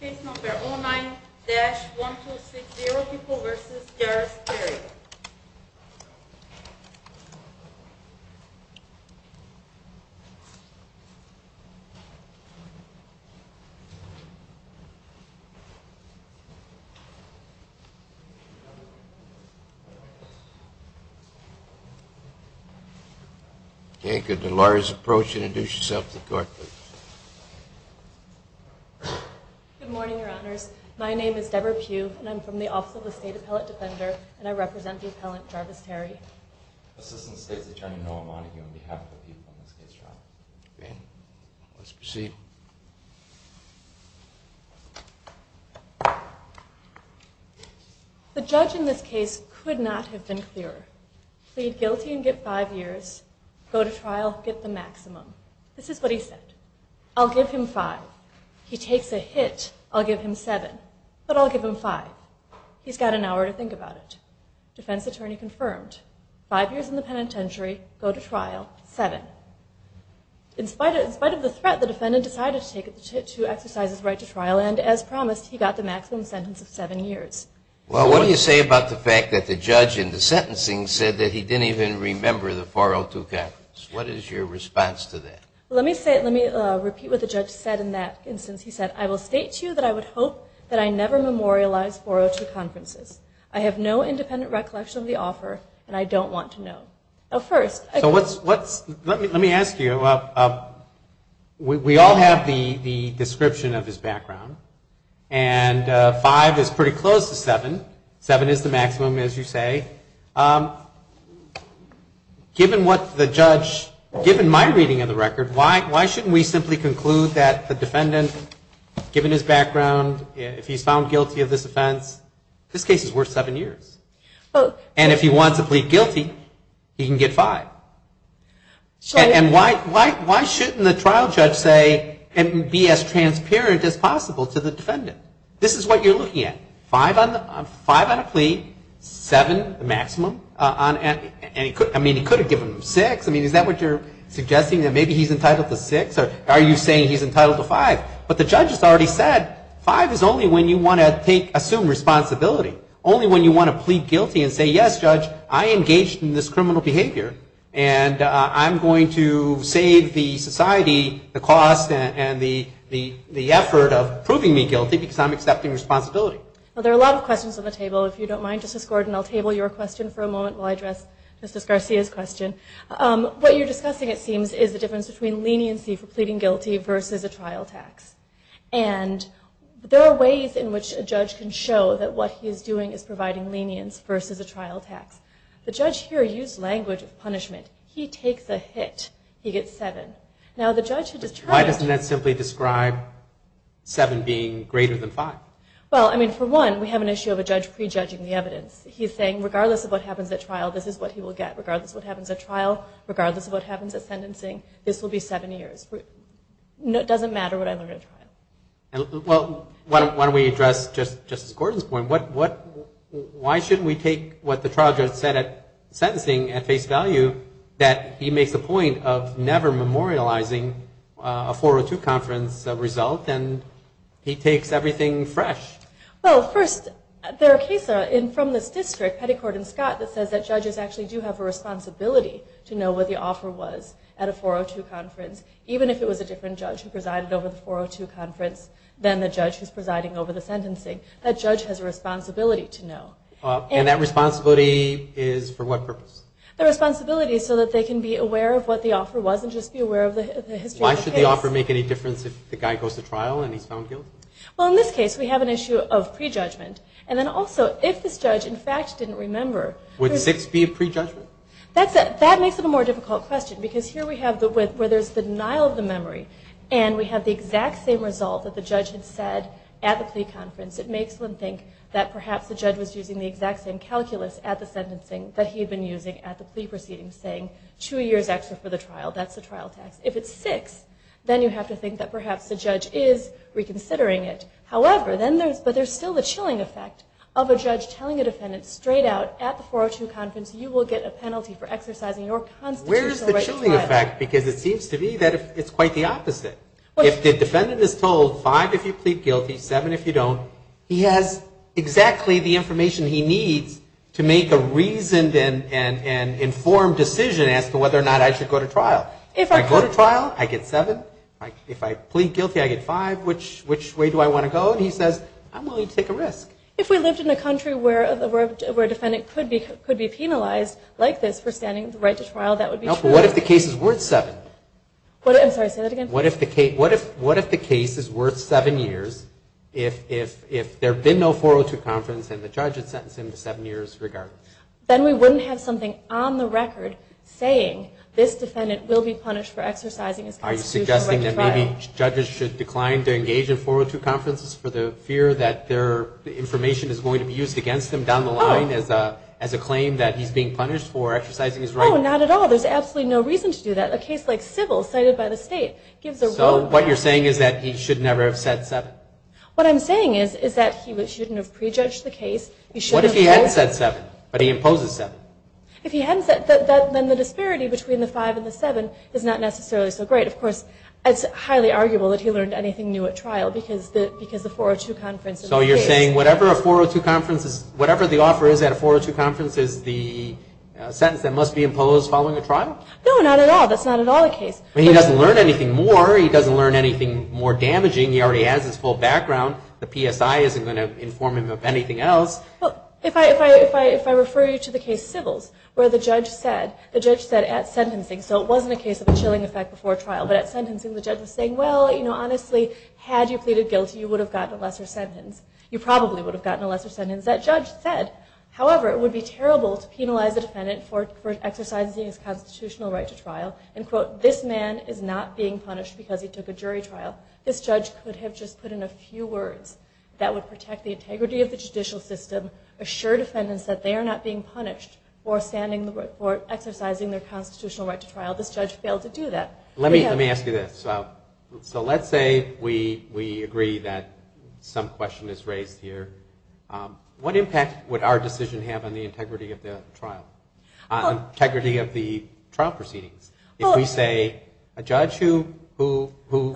Case No. 09-1260, People v. Garris, Terry. Good morning, Your Honors. My name is Deborah Pugh, and I'm from the Office of the State Appellate Defender, and I represent the appellant, Jarvis Terry. Assistant State's Attorney, Noah Monaghan, on behalf of the people in this case, Your Honor. Let's proceed. The judge in this case could not have been clearer. Plead guilty and get five years, go to trial, get the maximum. This is what he said. I'll give him five. He takes a hit, I'll give him seven. But I'll give him five. He's got an hour to think about it. Defense attorney confirmed. Five years in the penitentiary, go to trial, seven. In spite of the threat, the defendant decided to exercise his right to trial, and as promised, he got the maximum sentence of seven years. Well, what do you say about the fact that the judge in the sentencing said that he didn't even remember the 402 conference? What is your response to that? Let me repeat what the judge said in that instance. He said, I will state to you that I would hope that I never memorialize 402 conferences. I have no independent recollection of the offer, and I don't want to know. So let me ask you, we all have the description of his background, and five is pretty close to seven. Seven is the maximum, as you say. Given what the judge, given my reading of the record, why shouldn't we simply conclude that the defendant, given his background, if he's found guilty of this offense, this case is worth seven years. And if he wants to plead guilty, he can get five. And why shouldn't the trial judge say and be as transparent as possible to the defendant? This is what you're looking at. Five on a plea, seven, the maximum. I mean, he could have given them six. I mean, is that what you're suggesting, that maybe he's entitled to six, or are you saying he's entitled to five? But the judge has already said, five is only when you want to take, assume responsibility. Only when you want to plead guilty and say, yes, judge, I engaged in this criminal behavior, and I'm going to save the society the cost and the effort of proving me guilty because I'm accepting responsibility. Well, there are a lot of questions on the table. If you don't mind, Justice Gordon, I'll table your question for a moment while I address Justice Garcia's question. What you're discussing, it seems, is the difference between leniency for pleading guilty versus a trial tax. And there are ways in which a judge can show that what he's doing is providing lenience versus a trial tax. The judge here used language of punishment. He takes a hit, he gets seven. Now, the judge has described it. Why doesn't that simply describe seven being greater than five? Well, I mean, for one, we have an issue of a judge prejudging the evidence. He's saying, regardless of what happens at trial, this is what he will get. Regardless of what happens at trial, regardless of what happens at sentencing, this will be seven years. It doesn't matter what happens at trial. Well, why don't we address Justice Gordon's point? Why shouldn't we take what the trial judge said at sentencing at face value, that he makes a point of never memorializing a 402 conference result, and he takes everything fresh? Well, first, there are cases from this district, Petty Court in Scott, that says that judges actually do have a responsibility to know what the offer was at a 402 conference, even if it was a different judge who presided over the 402 conference than the judge who's presiding over the sentencing. That judge has a responsibility to know. And that responsibility is for what purpose? The responsibility is so that they can be aware of what the offer was and just be aware of the history of the case. Why should the offer make any difference if the guy goes to trial and he's found guilty? Well, in this case, we have an issue of prejudgment. And then also, if this judge, in fact, didn't remember... Would six be a prejudgment? That makes it a more difficult question, because here we have where there's the denial of the memory, and we have the exact same result that the judge had said at the plea conference. It makes one think that perhaps the judge was using the exact same calculus at the sentencing that he had been using at the plea proceedings, saying two years extra for the trial. That's the trial tax. If it's six, then you have to think that perhaps the judge is reconsidering it. However, then there's... but there's still the chilling effect of a judge telling a defendant straight out, at the 402 conference, you will get a penalty for exercising your constitutional right to trial. Where's the chilling effect? Because it seems to me that it's quite the opposite. If the defendant is told five if you plead guilty, seven if you don't, he has exactly the information he needs to make a reasoned and informed decision as to whether or not I should go to trial. If I go to trial, I get seven. If I plead guilty, I get five. Which way do I want to go? And he says, I'm willing to take a risk. If we lived in a country where a defendant could be penalized like this for standing the right to trial, that would be true. No, but what if the case is worth seven? I'm sorry, say that again? What if the case is worth seven years if there had been no 402 conference and the judge had sentenced him to seven years' regard? Then we wouldn't have something on the record saying this defendant will be punished for exercising his constitutional right to trial. Maybe judges should decline to engage in 402 conferences for the fear that their information is going to be used against them down the line as a claim that he's being punished for exercising his right? Oh, not at all. There's absolutely no reason to do that. A case like Civil, cited by the state, gives a real- So what you're saying is that he should never have said seven? What I'm saying is that he shouldn't have prejudged the case. What if he hadn't said seven, but he imposes seven? If he hadn't said that, then the disparity between the five and the seven is not necessarily so great. Of course, it's highly arguable that he learned anything new at trial because the 402 conference- So you're saying whatever the offer is at a 402 conference is the sentence that must be imposed following a trial? No, not at all. That's not at all the case. He doesn't learn anything more. He doesn't learn anything more damaging. He already has his full background. The PSI isn't going to inform him of anything else. Well, if I refer you to the case Civils, where the judge said at sentencing- So it wasn't a case of a chilling effect before trial, but at sentencing the judge was saying, well, honestly, had you pleaded guilty, you would have gotten a lesser sentence. You probably would have gotten a lesser sentence. That judge said, however, it would be terrible to penalize a defendant for exercising his constitutional right to trial. And quote, this man is not being punished because he took a jury trial. This judge could have just put in a few words that would protect the integrity of the judicial system, assure defendants that they are not being punished for standing the- for exercising their constitutional right to trial. This judge failed to do that. Let me ask you this. So let's say we agree that some question is raised here. What impact would our decision have on the integrity of the trial, integrity of the trial proceedings? If we say a judge who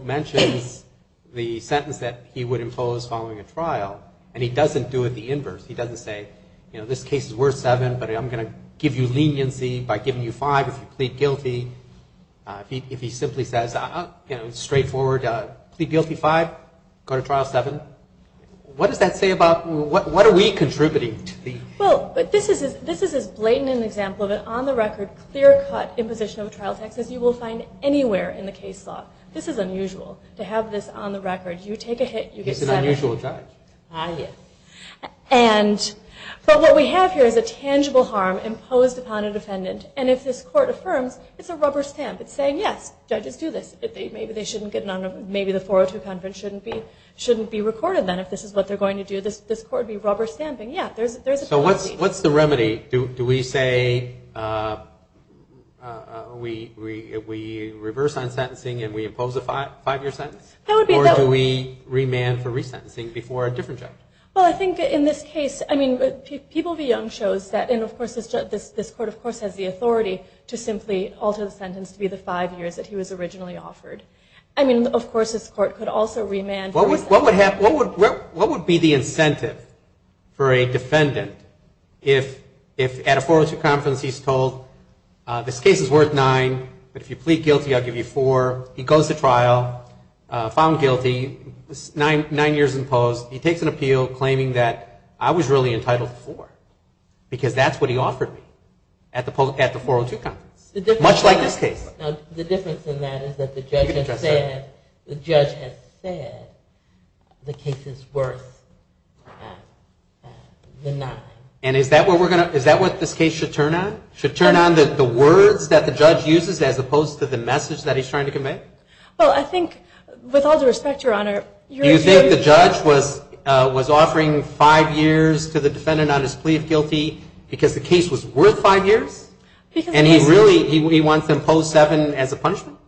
mentions the sentence that he would impose following a trial, and he doesn't do it the inverse, he doesn't say, you know, this case is worth seven, but I'm going to give you leniency by giving you five if you plead guilty. If he simply says, you know, straightforward, plead guilty five, go to trial seven, what does that say about what are we contributing to the- Well, but this is as blatant an example of an on-the-record, clear-cut imposition of a trial text as you will find anywhere in the case law. This is unusual to have this on the record. You take a hit, you get seven. He's an unusual judge. I hear. And but what we have here is a tangible harm imposed upon a defendant. And if this court affirms, it's a rubber stamp. It's saying, yes, judges do this. Maybe they shouldn't get none of them. Maybe the 402 Convention shouldn't be recorded then if this is what they're going to do. This court would be rubber stamping. Yeah, there's a policy. So what's the remedy? Do we say we reverse on sentencing and we impose a five-year sentence? Or do we remand for resentencing before a different judge? Well, I think in this case, I mean, People v. Young shows that, and, of course, this court, of course, has the authority to simply alter the sentence to be the five years that he was originally offered. I mean, of course, this court could also remand. What would be the incentive for a defendant if at a 402 conference he's told, this case is worth nine, but if you plead guilty, I'll give you four. He goes to trial, found guilty, nine years imposed. He takes an appeal claiming that I was really entitled to four because that's what he offered me at the 402 conference, much like this case. Now, the difference in that is that the judge has said the case is worth the nine. And is that what this case should turn on? Should it turn on the words that the judge uses as opposed to the message that he's trying to convey? Well, I think, with all due respect, Your Honor, you're accusing me. You think the judge was offering five years to the defendant on his plea of guilty because the case was worth five years? And he really, he wants to impose seven as a punishment?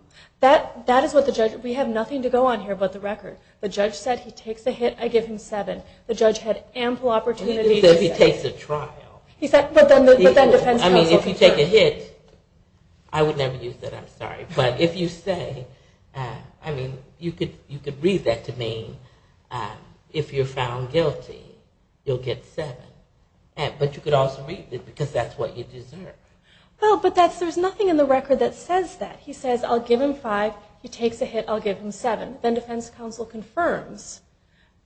That is what the judge, we have nothing to go on here but the record. The judge said he takes a hit, I give him seven. The judge had ample opportunity to say. He said he takes a trial. He said, but then the defense counsel. I mean, if you take a hit, I would never use that, I'm sorry. But if you say, I mean, you could read that to mean if you're found guilty, you'll get seven. But you could also read it because that's what you deserve. Well, but there's nothing in the record that says that. He says, I'll give him five. He takes a hit, I'll give him seven. Then defense counsel confirms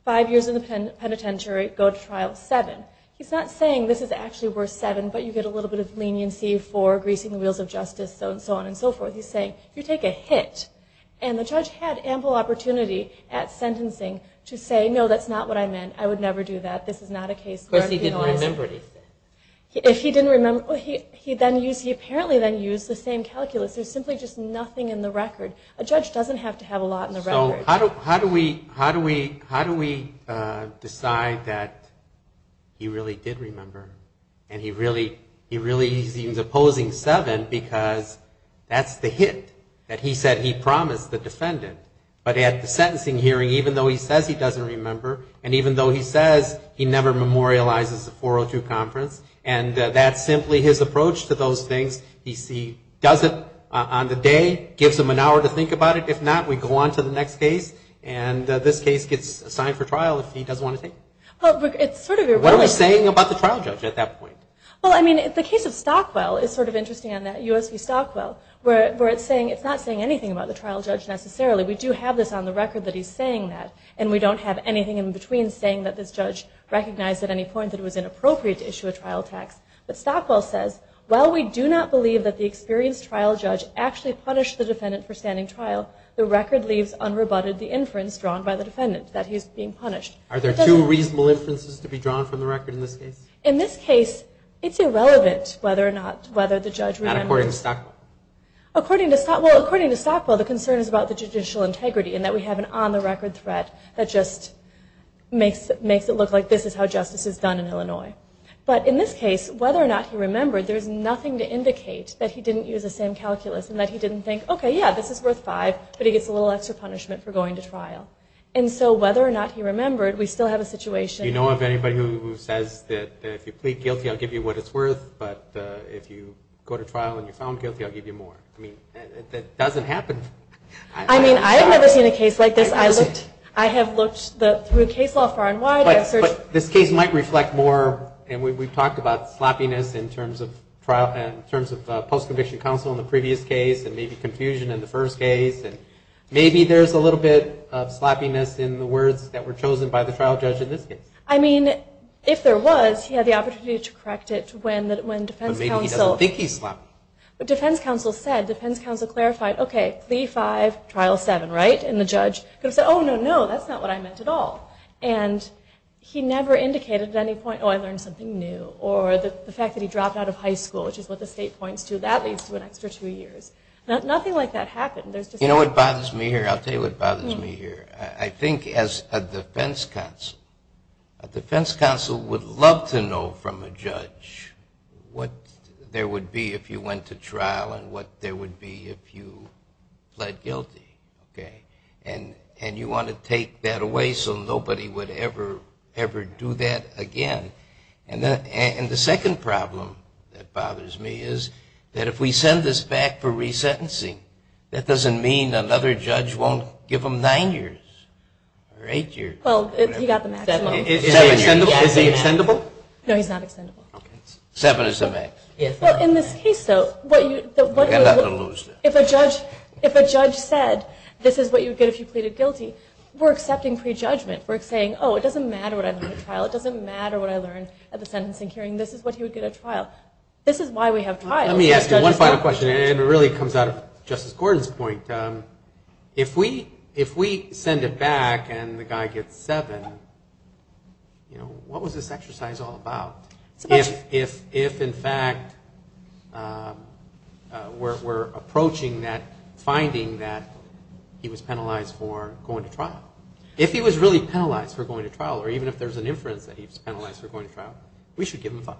five years in the penitentiary, go to trial, seven. He's not saying this is actually worth seven, but you get a little bit of leniency for greasing the wheels of justice, so on and so forth. He's saying, you take a hit. And the judge had ample opportunity at sentencing to say, no, that's not what I meant. I would never do that. This is not a case where I'd be honest. Because he didn't remember anything. If he didn't remember, he apparently then used the same calculus. There's simply just nothing in the record. A judge doesn't have to have a lot in the record. So how do we decide that he really did remember? And he really is opposing seven because that's the hit that he said he promised the defendant. But at the sentencing hearing, even though he says he doesn't remember, and even though he says he never memorializes the 402 conference, and that's simply his approach to those things. He does it on the day, gives him an hour to think about it. If not, we go on to the next case. And this case gets assigned for trial if he doesn't want to take it. What are we saying about the trial judge at that point? Well, I mean, the case of Stockwell is sort of interesting on that, US v. Stockwell, where it's not saying anything about the trial judge necessarily. We do have this on the record that he's saying that. And we don't have anything in between saying that this judge recognized at any point that it was inappropriate to issue a trial tax. But Stockwell says, while we do not believe that the experienced trial judge actually punished the defendant for standing trial, the record leaves unrebutted the inference drawn by the defendant that he's being punished. Are there two reasonable inferences to be drawn from the record in this case? In this case, it's irrelevant whether or not the judge remembers. Not according to Stockwell? According to Stockwell, the concern is about the judicial integrity and that we have an on-the-record threat that just makes it look like this is how justice is done in Illinois. But in this case, whether or not he remembered, there's nothing to indicate that he didn't use the same calculus and that he didn't think, okay, yeah, this is worth five, but he gets a little extra punishment for going to trial. And so whether or not he remembered, we still have a situation. Do you know of anybody who says that if you plead guilty, I'll give you what it's worth, but if you go to trial and you're found guilty, I'll give you more? I mean, that doesn't happen. I mean, I have never seen a case like this. It doesn't? I have looked through case law far and wide. But this case might reflect more, and we've talked about sloppiness in terms of trial and in terms of post-conviction counsel in the previous case and maybe confusion in the first case. And maybe there's a little bit of sloppiness in the words that were chosen by the trial judge in this case. I mean, if there was, he had the opportunity to correct it when defense counsel said, defense counsel clarified, okay, plea five, trial seven, right? And the judge could have said, oh, no, no, that's not what I meant at all. And he never indicated at any point, oh, I learned something new, or the fact that he dropped out of high school, which is what the state points to, that leads to an extra two years. Nothing like that happened. You know what bothers me here? I'll tell you what bothers me here. I think as a defense counsel, a defense counsel would love to know from a judge what there would be if you went to trial and what there would be if you pled guilty, okay? And you want to take that away so nobody would ever, ever do that again. And the second problem that bothers me is that if we send this back for resentencing, that doesn't mean another judge won't give him nine years or eight years. Well, he got the maximum. Is he extendable? No, he's not extendable. Seven is the max. Well, in this case, though, if a judge said this is what you get if you pleaded guilty, we're accepting prejudgment. We're saying, oh, it doesn't matter what I learned at trial. It doesn't matter what I learned at the sentencing hearing. This is what he would get at trial. This is why we have trials. Let me ask you one final question, and it really comes out of Justice Gordon's point. If we send it back and the guy gets seven, what was this exercise all about? If, in fact, we're approaching that finding that he was penalized for going to trial, if he was really penalized for going to trial or even if there's an inference that he was penalized for going to trial, we should give him five.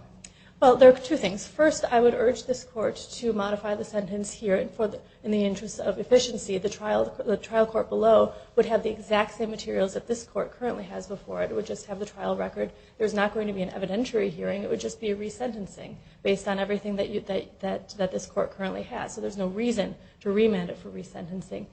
Well, there are two things. First, I would urge this court to modify the sentence here in the interest of efficiency. The trial court below would have the exact same materials that this court currently has before it. It would just have the trial record. There's not going to be an evidentiary hearing. It would just be a resentencing based on everything that this court currently has. So there's no reason to remand it for resentencing.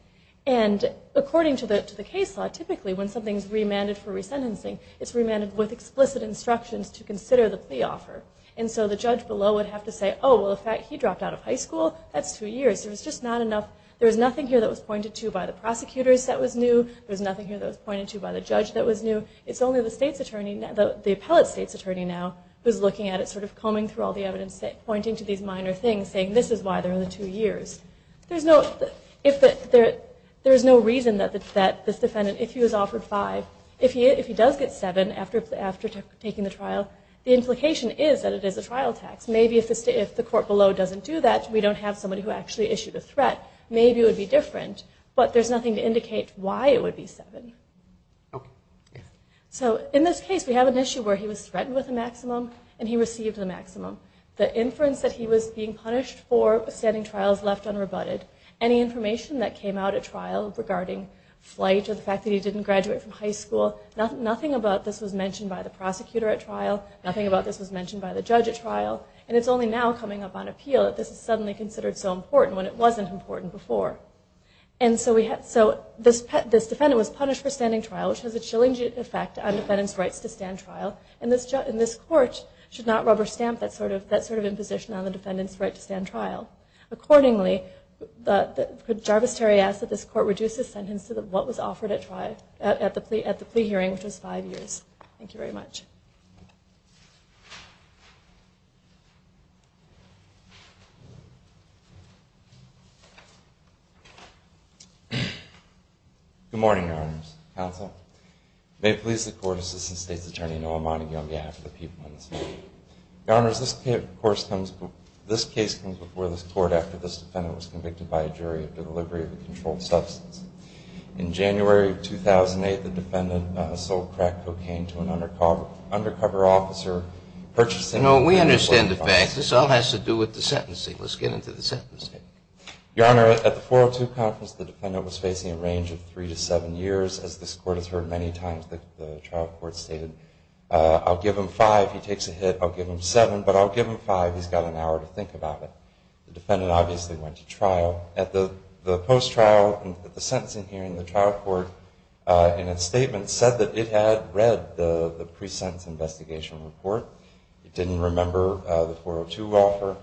And according to the case law, typically when something is remanded for resentencing, it's remanded with explicit instructions to consider the plea offer. And so the judge below would have to say, oh, well, in fact, he dropped out of high school. That's two years. There was just not enough. There was nothing here that was pointed to by the prosecutors that was new. There was nothing here that was pointed to by the judge that was new. It's only the state's attorney, the appellate state's attorney now, who's looking at it sort of combing through all the evidence, pointing to these minor things, saying this is why there are the two years. There's no reason that this defendant, if he was offered five, if he does get seven after taking the trial, the implication is that it is a trial tax. Maybe if the court below doesn't do that, we don't have somebody who actually issued a threat, maybe it would be different. But there's nothing to indicate why it would be seven. So in this case, we have an issue where he was threatened with a maximum, and he received the maximum. The inference that he was being punished for standing trial is left unrebutted. Any information that came out at trial regarding flight or the fact that he didn't graduate from high school, nothing about this was mentioned by the prosecutor at trial, nothing about this was mentioned by the judge at trial, and it's only now coming up on appeal that this is suddenly considered so important when it wasn't important before. And so this defendant was punished for standing trial, which has a chilling effect on defendants' rights to stand trial, and this court should not rubber stamp that sort of imposition on the defendants' right to stand trial. Accordingly, could Jarvis Terry ask that this court reduce his sentence to what was offered at the plea hearing, which was five years? Thank you very much. Good morning, Your Honors. Counsel, may it please the Court Assistant State's Attorney Noah Monaghan on behalf of the people in this room. Thank you. Your Honors, this case comes before this Court after this defendant was convicted by a jury of the delivery of a controlled substance. In January of 2008, the defendant sold crack cocaine to an undercover officer, purchasing the medical device. No, we understand the facts. This all has to do with the sentencing. Let's get into the sentencing. Your Honor, at the 402 Conference, the defendant was facing a range of three to seven years. As this Court has heard many times, the trial court stated, I'll give him five. He takes a hit. I'll give him seven. But I'll give him five. He's got an hour to think about it. The defendant obviously went to trial. At the post-trial, at the sentencing hearing, the trial court, in its statement, said that it had read the pre-sentence investigation report. It didn't remember the 402 offer.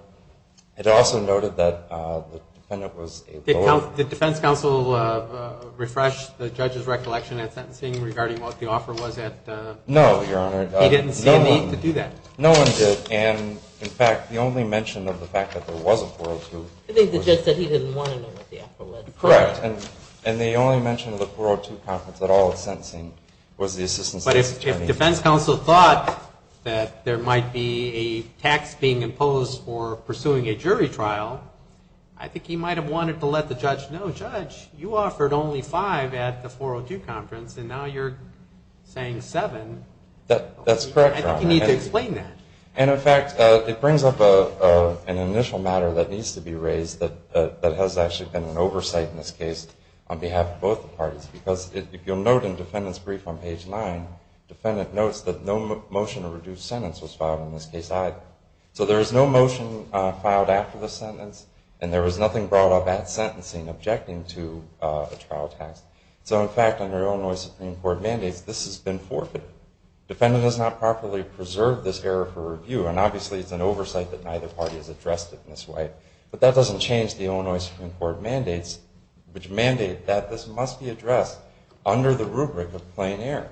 It also noted that the defendant was able to offer. Did defense counsel refresh the judge's recollection at sentencing regarding what the offer was at? No, Your Honor. He didn't see a need to do that. No one did. And, in fact, the only mention of the fact that there was a 402. I think the judge said he didn't want to know what the offer was. Correct. And the only mention of the 402 Conference at all at sentencing was the assistance to the attorney. But if defense counsel thought that there might be a tax being imposed for pursuing a jury trial, I think he might have wanted to let the judge know, Well, Judge, you offered only five at the 402 Conference, and now you're saying seven. That's correct, Your Honor. I think you need to explain that. And, in fact, it brings up an initial matter that needs to be raised that has actually been an oversight in this case on behalf of both parties. Because if you'll note in defendant's brief on page 9, the defendant notes that no motion to reduce sentence was filed in this case either. So there is no motion filed after the sentence, and there was nothing brought up at sentencing objecting to a trial tax. So, in fact, under Illinois Supreme Court mandates, this has been forfeited. Defendant has not properly preserved this error for review, and obviously it's an oversight that neither party has addressed it in this way. But that doesn't change the Illinois Supreme Court mandates, which mandate that this must be addressed under the rubric of plain error.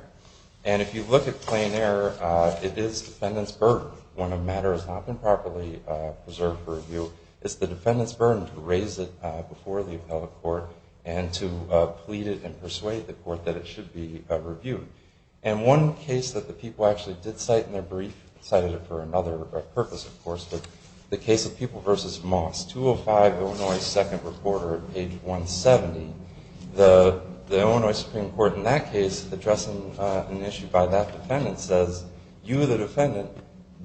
And if you look at plain error, it is defendant's burden. When a matter has not been properly preserved for review, it's the defendant's burden to raise it before the appellate court and to plead it and persuade the court that it should be reviewed. And one case that the people actually did cite in their brief, cited it for another purpose, of course, was the case of People v. Moss, 205 Illinois, second recorder, page 170. The Illinois Supreme Court in that case, addressing an issue by that defendant, says you, the defendant,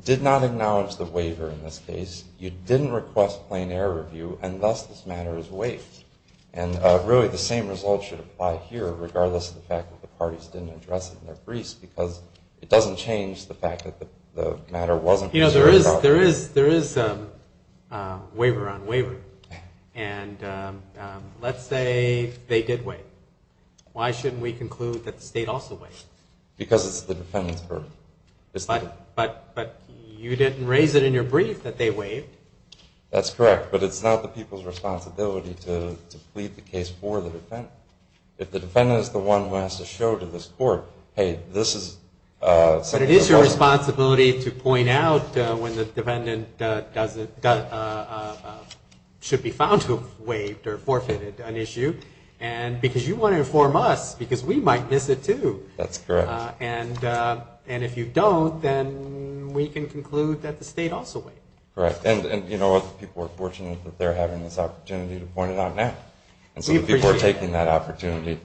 did not acknowledge the waiver in this case. You didn't request plain error review, and thus this matter is waived. And really the same result should apply here, regardless of the fact that the parties didn't address it in their briefs, because it doesn't change the fact that the matter wasn't preserved at all. You know, there is waiver on waiver. And let's say they did waive. Why shouldn't we conclude that the state also waived? Because it's the defendant's burden. But you didn't raise it in your brief that they waived. That's correct. But it's not the people's responsibility to plead the case for the defendant. If the defendant is the one who has to show to this court, hey, this is ____. But it is your responsibility to point out when the defendant should be found to have waived or forfeited an issue, because you want to inform us, because we might miss it too. That's correct. And if you don't, then we can conclude that the state also waived. Correct. And you know what? The people are fortunate that they're having this opportunity to point it out now. We appreciate it. And so the people are taking that opportunity.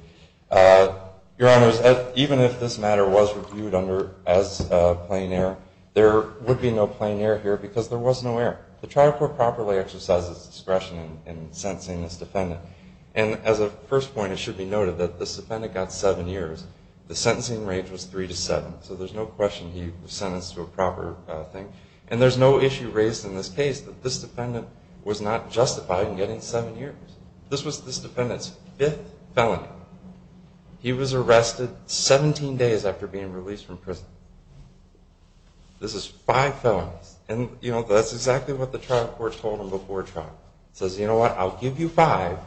Your Honors, even if this matter was reviewed as plain error, there would be no plain error here because there was no error. The Tribal Court properly exercises discretion in sentencing this defendant. And as a first point, it should be noted that this defendant got seven years. The sentencing range was three to seven, so there's no question he was sentenced to a proper thing. And there's no issue raised in this case that this defendant was not justified in getting seven years. This was this defendant's fifth felony. He was arrested 17 days after being released from prison. This is five felonies. And, you know, that's exactly what the Tribal Court told him before trial. It says, you know what, I'll give you five,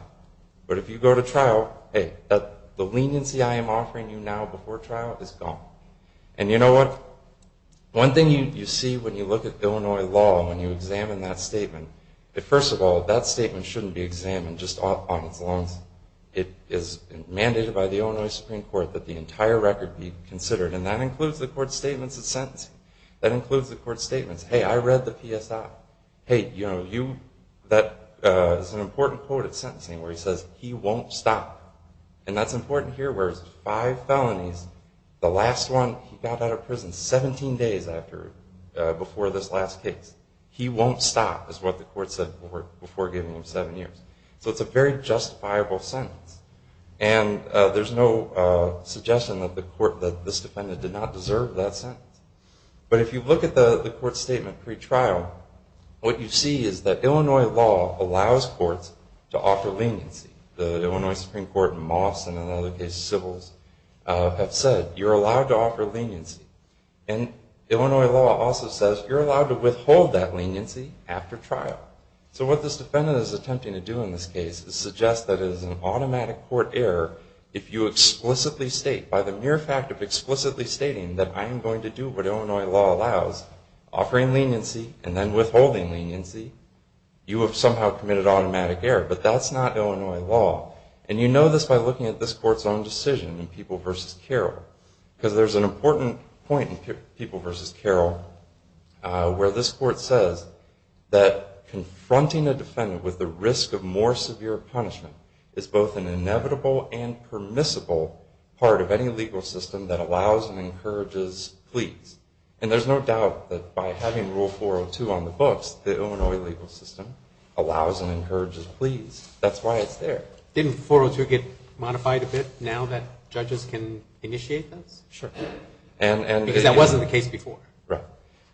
but if you go to trial, hey, the leniency I am offering you now before trial is gone. And you know what? One thing you see when you look at Illinois law, when you examine that statement, first of all, that statement shouldn't be examined just on its own. It is mandated by the Illinois Supreme Court that the entire record be considered, and that includes the court statements of sentencing. That includes the court statements. Hey, I read the PSI. Hey, you know, that is an important quote at sentencing where he says, he won't stop. And that's important here where it's five felonies. The last one, he got out of prison 17 days before this last case. He won't stop is what the court said before giving him seven years. So it's a very justifiable sentence. And there's no suggestion that this defendant did not deserve that sentence. But if you look at the court statement pre-trial, what you see is that Illinois law allows courts to offer leniency. The Illinois Supreme Court and Moss and in other cases, civils have said you're allowed to offer leniency. And Illinois law also says you're allowed to withhold that leniency after trial. So what this defendant is attempting to do in this case is suggest that it is an automatic court error if you explicitly state, by the mere fact of explicitly stating that I am going to do what Illinois law allows, offering leniency and then withholding leniency, you have somehow committed automatic error. But that's not Illinois law. And you know this by looking at this court's own decision in People v. Carroll. Because there's an important point in People v. Carroll where this court says that confronting a defendant with the risk of more severe punishment is both an inevitable and permissible part of any legal system that allows and encourages pleas. And there's no doubt that by having Rule 402 on the books, the Illinois legal system allows and encourages pleas. That's why it's there. Didn't 402 get modified a bit now that judges can initiate this? Sure. Because that wasn't the case before. Right.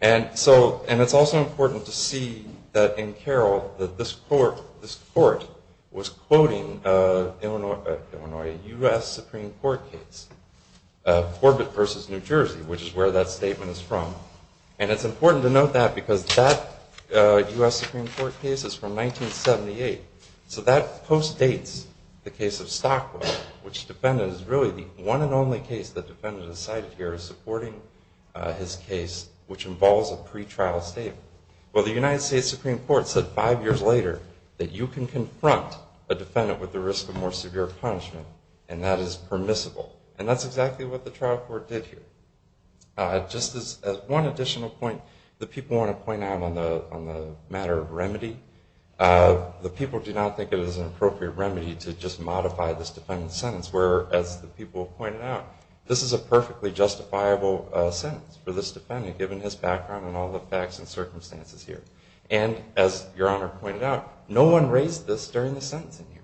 And it's also important to see that in Carroll that this court was quoting a U.S. Supreme Court case, Corbett v. New Jersey, which is where that statement is from. And it's important to note that because that U.S. Supreme Court case is from 1978. So that postdates the case of Stockwell, which the defendant is really the one and only case the defendant has cited here supporting his case, which involves a pretrial statement. Well, the United States Supreme Court said five years later that you can take the risk of more severe punishment, and that is permissible. And that's exactly what the trial court did here. Just as one additional point that people want to point out on the matter of remedy, the people do not think it is an appropriate remedy to just modify this defendant's sentence, where, as the people pointed out, this is a perfectly justifiable sentence for this defendant, given his background and all the facts and circumstances here. And as Your Honor pointed out, no one raised this during the sentencing here.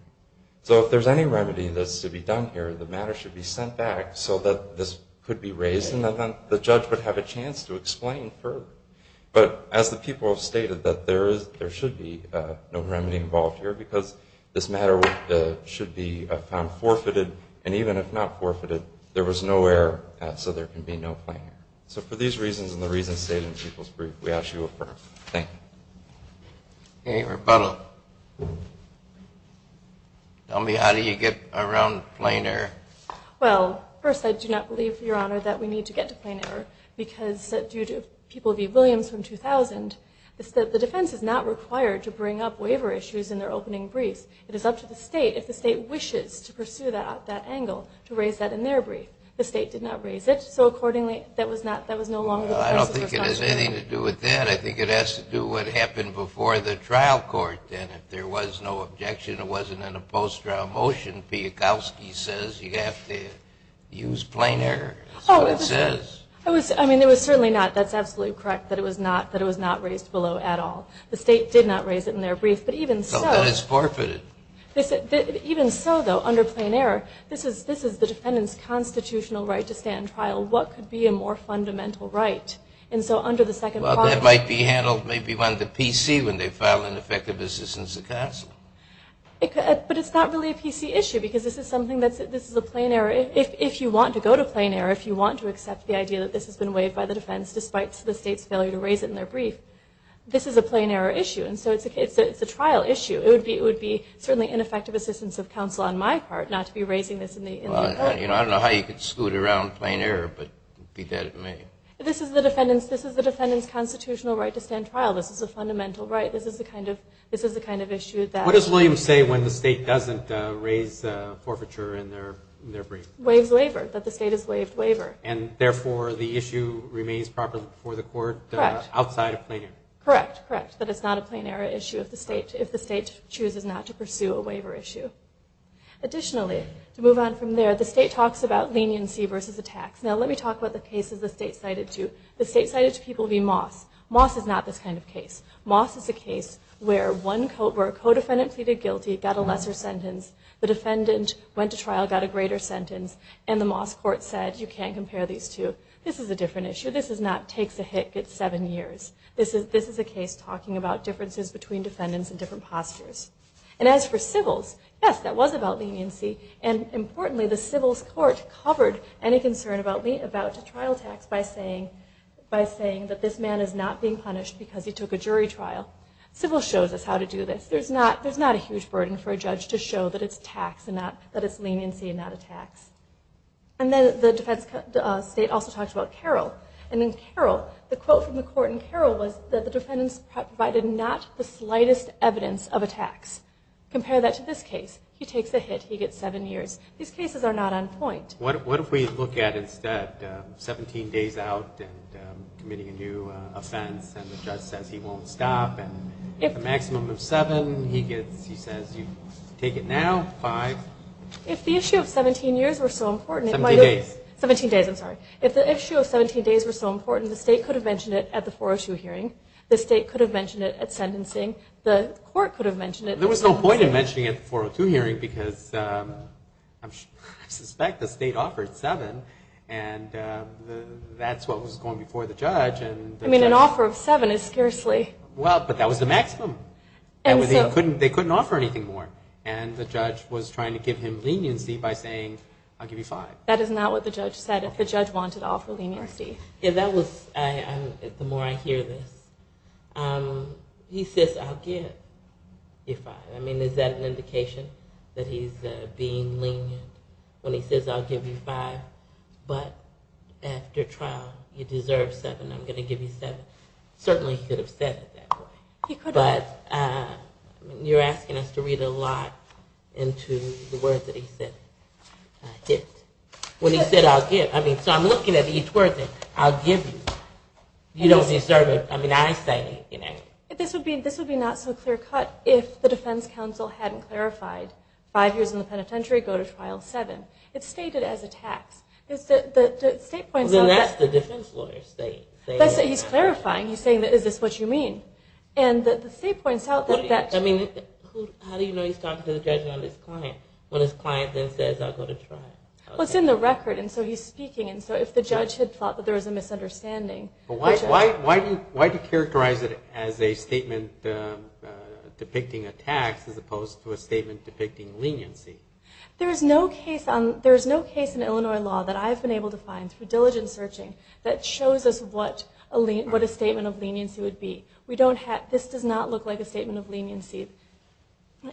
So if there's any remedy that's to be done here, the matter should be sent back so that this could be raised and then the judge would have a chance to explain further. But as the people have stated, that there should be no remedy involved here, because this matter should be found forfeited, and even if not forfeited, there was no error, so there can be no plain error. So for these reasons and the reasons stated in people's brief, we ask you to affirm. Thank you. Any rebuttal? Tell me, how do you get around plain error? Well, first, I do not believe, Your Honor, that we need to get to plain error, because due to people, the Williams from 2000, the defense is not required to bring up waiver issues in their opening briefs. It is up to the state, if the state wishes to pursue that angle, to raise that in their brief. The state did not raise it, so accordingly, that was no longer the person's responsibility. I don't think it has anything to do with that. I think it has to do with what happened before the trial court, and if there was no objection, it wasn't in a post-trial motion. Piakowski says you have to use plain error. That's what it says. I mean, it was certainly not, that's absolutely correct, that it was not raised below at all. The state did not raise it in their brief, but even so. So then it's forfeited. Even so, though, under plain error, this is the defendant's constitutional right to stand trial. What could be a more fundamental right? Well, that might be handled maybe on the PC when they file ineffective assistance of counsel. But it's not really a PC issue, because this is a plain error. If you want to go to plain error, if you want to accept the idea that this has been waived by the defense despite the state's failure to raise it in their brief, this is a plain error issue. And so it's a trial issue. It would be certainly ineffective assistance of counsel on my part not to be raising this in the open. I don't know how you could scoot around plain error, but it would be dead to me. This is the defendant's constitutional right to stand trial. This is a fundamental right. This is the kind of issue that – What does Williams say when the state doesn't raise forfeiture in their brief? Waives waiver, that the state has waived waiver. And, therefore, the issue remains proper for the court outside of plain error? Correct, correct, that it's not a plain error issue if the state chooses not to pursue a waiver issue. Additionally, to move on from there, the state talks about leniency versus a tax. Now, let me talk about the cases the state cited to. The state cited to people would be Moss. Moss is not this kind of case. Moss is a case where a co-defendant pleaded guilty, got a lesser sentence. The defendant went to trial, got a greater sentence, and the Moss court said you can't compare these two. This is a different issue. This is not takes a hit, gets seven years. This is a case talking about differences between defendants and different postures. And as for civils, yes, that was about leniency. And, importantly, the civils court covered any concern about trial tax by saying that this man is not being punished because he took a jury trial. Civils shows us how to do this. There's not a huge burden for a judge to show that it's leniency and not a tax. And then the defense state also talks about Carroll. And in Carroll, the quote from the court in Carroll was that the defendants provided not the slightest evidence of a tax. Compare that to this case. He takes a hit. He gets seven years. These cases are not on point. What if we look at instead 17 days out and committing a new offense and the judge says he won't stop? And at the maximum of seven, he says you take it now, five. If the issue of 17 days were so important, the state could have mentioned it at the 402 hearing. The state could have mentioned it at sentencing. The court could have mentioned it. There was no point in mentioning it at the 402 hearing because I suspect the state offered seven and that's what was going before the judge. I mean, an offer of seven is scarcely. Well, but that was the maximum. They couldn't offer anything more. And the judge was trying to give him leniency by saying I'll give you five. That is not what the judge said. The judge wanted to offer leniency. The more I hear this, he says I'll give you five. I mean, is that an indication that he's being lenient when he says I'll give you five but after trial you deserve seven. I'm going to give you seven. Certainly he could have said it that way. He could have. But you're asking us to read a lot into the words that he said. When he said I'll give, I mean, so I'm looking at each word. I'll give you. You don't deserve it. I mean, I say, you know. This would be not so clear cut if the defense counsel hadn't clarified five years in the penitentiary, go to trial seven. It's stated as a tax. The state points out that. Well, then that's the defense lawyers saying. He's clarifying. He's saying is this what you mean. And the state points out that. I mean, how do you know he's talking to the judge and not his client when his lawyer says go to trial. Well, it's in the record. And so he's speaking. And so if the judge had thought that there was a misunderstanding. Why do you characterize it as a statement depicting a tax as opposed to a statement depicting leniency? There is no case in Illinois law that I have been able to find through diligent searching that shows us what a statement of leniency would be. This does not look like a statement of leniency.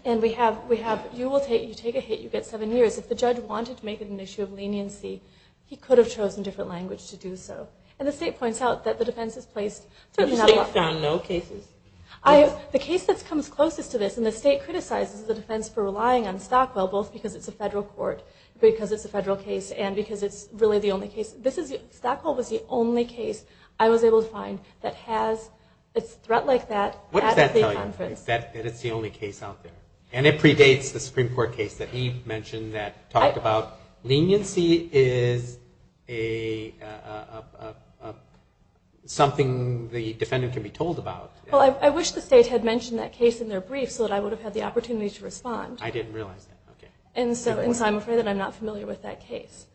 And you take a hit, you get seven years. If the judge wanted to make it an issue of leniency, he could have chosen a different language to do so. And the state points out that the defense has placed. The state found no cases? The case that comes closest to this, and the state criticizes the defense for relying on Stockwell, both because it's a federal court, because it's a federal case, and because it's really the only case. Stockwell was the only case I was able to find that has a threat like that. What does that tell you? That it's the only case out there. And it predates the Supreme Court case that he mentioned that talked about leniency is something the defendant can be told about. Well, I wish the state had mentioned that case in their brief so that I would have had the opportunity to respond. I didn't realize that. And so I'm afraid that I'm not familiar with that case.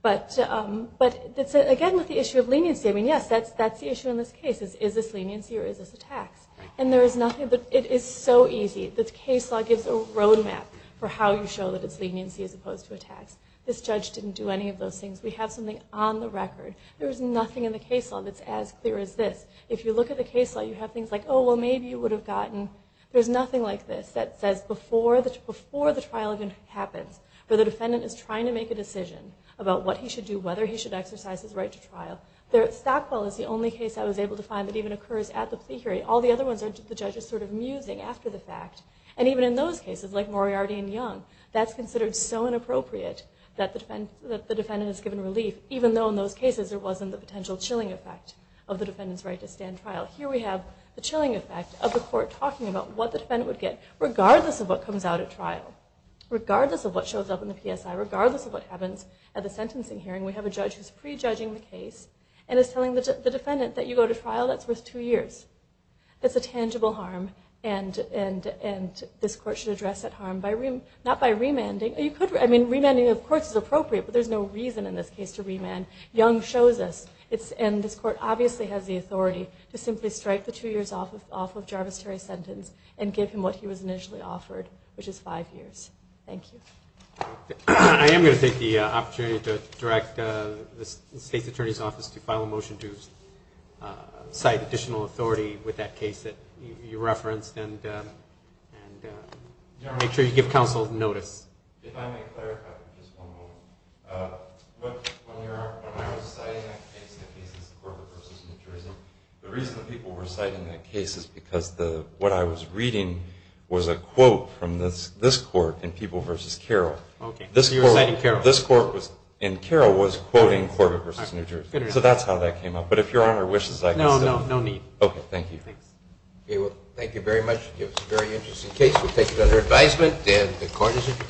But, again, with the issue of leniency, I mean, yes, that's the issue in this case is, is this leniency or is this a tax? And there is nothing. It is so easy. The case law gives a roadmap for how you show that it's leniency as opposed to a tax. This judge didn't do any of those things. We have something on the record. There is nothing in the case law that's as clear as this. If you look at the case law, you have things like, oh, well maybe you would have gotten. There's nothing like this that says before the trial even happens, where the defendant is trying to make a decision about what he should do, whether he should exercise his right to trial. There at Stockwell is the only case I was able to find that even occurs at the plea hearing. All the other ones the judge is sort of musing after the fact. And even in those cases, like Moriarty and Young, that's considered so inappropriate that the defendant is given relief, even though in those cases there wasn't the potential chilling effect of the defendant's right to stand trial. Here we have the chilling effect of the court talking about what the defendant would get regardless of what comes out at trial, regardless of what shows up in the PSI, regardless of what happens at the sentencing hearing. We have a judge who's prejudging the case and is telling the defendant that you go to trial, that's worth two years. That's a tangible harm. And this court should address that harm not by remanding. I mean, remanding, of course, is appropriate, but there's no reason in this case to remand. Young shows us. And this court obviously has the authority to simply strike the two years off of Jarvis Terry's sentence and give him what he was initially offered, which is five years. Thank you. I am going to take the opportunity to direct the State's Attorney's Office to file a motion to cite additional authority with that case that you referenced and make sure you give counsel notice. If I may clarify for just one moment. When I was citing that case, the case of Corbett v. New Jersey, the reason the people were citing that case is because what I was reading was a quote from this court in People v. Carroll. Okay. So you were citing Carroll. This court in Carroll was quoting Corbett v. New Jersey. So that's how that came up. But if Your Honor wishes, I can say. No, no need. Okay. Thank you. Okay. Well, thank you very much. It was a very interesting case. We'll take it under advisement. And the Court is adjourned.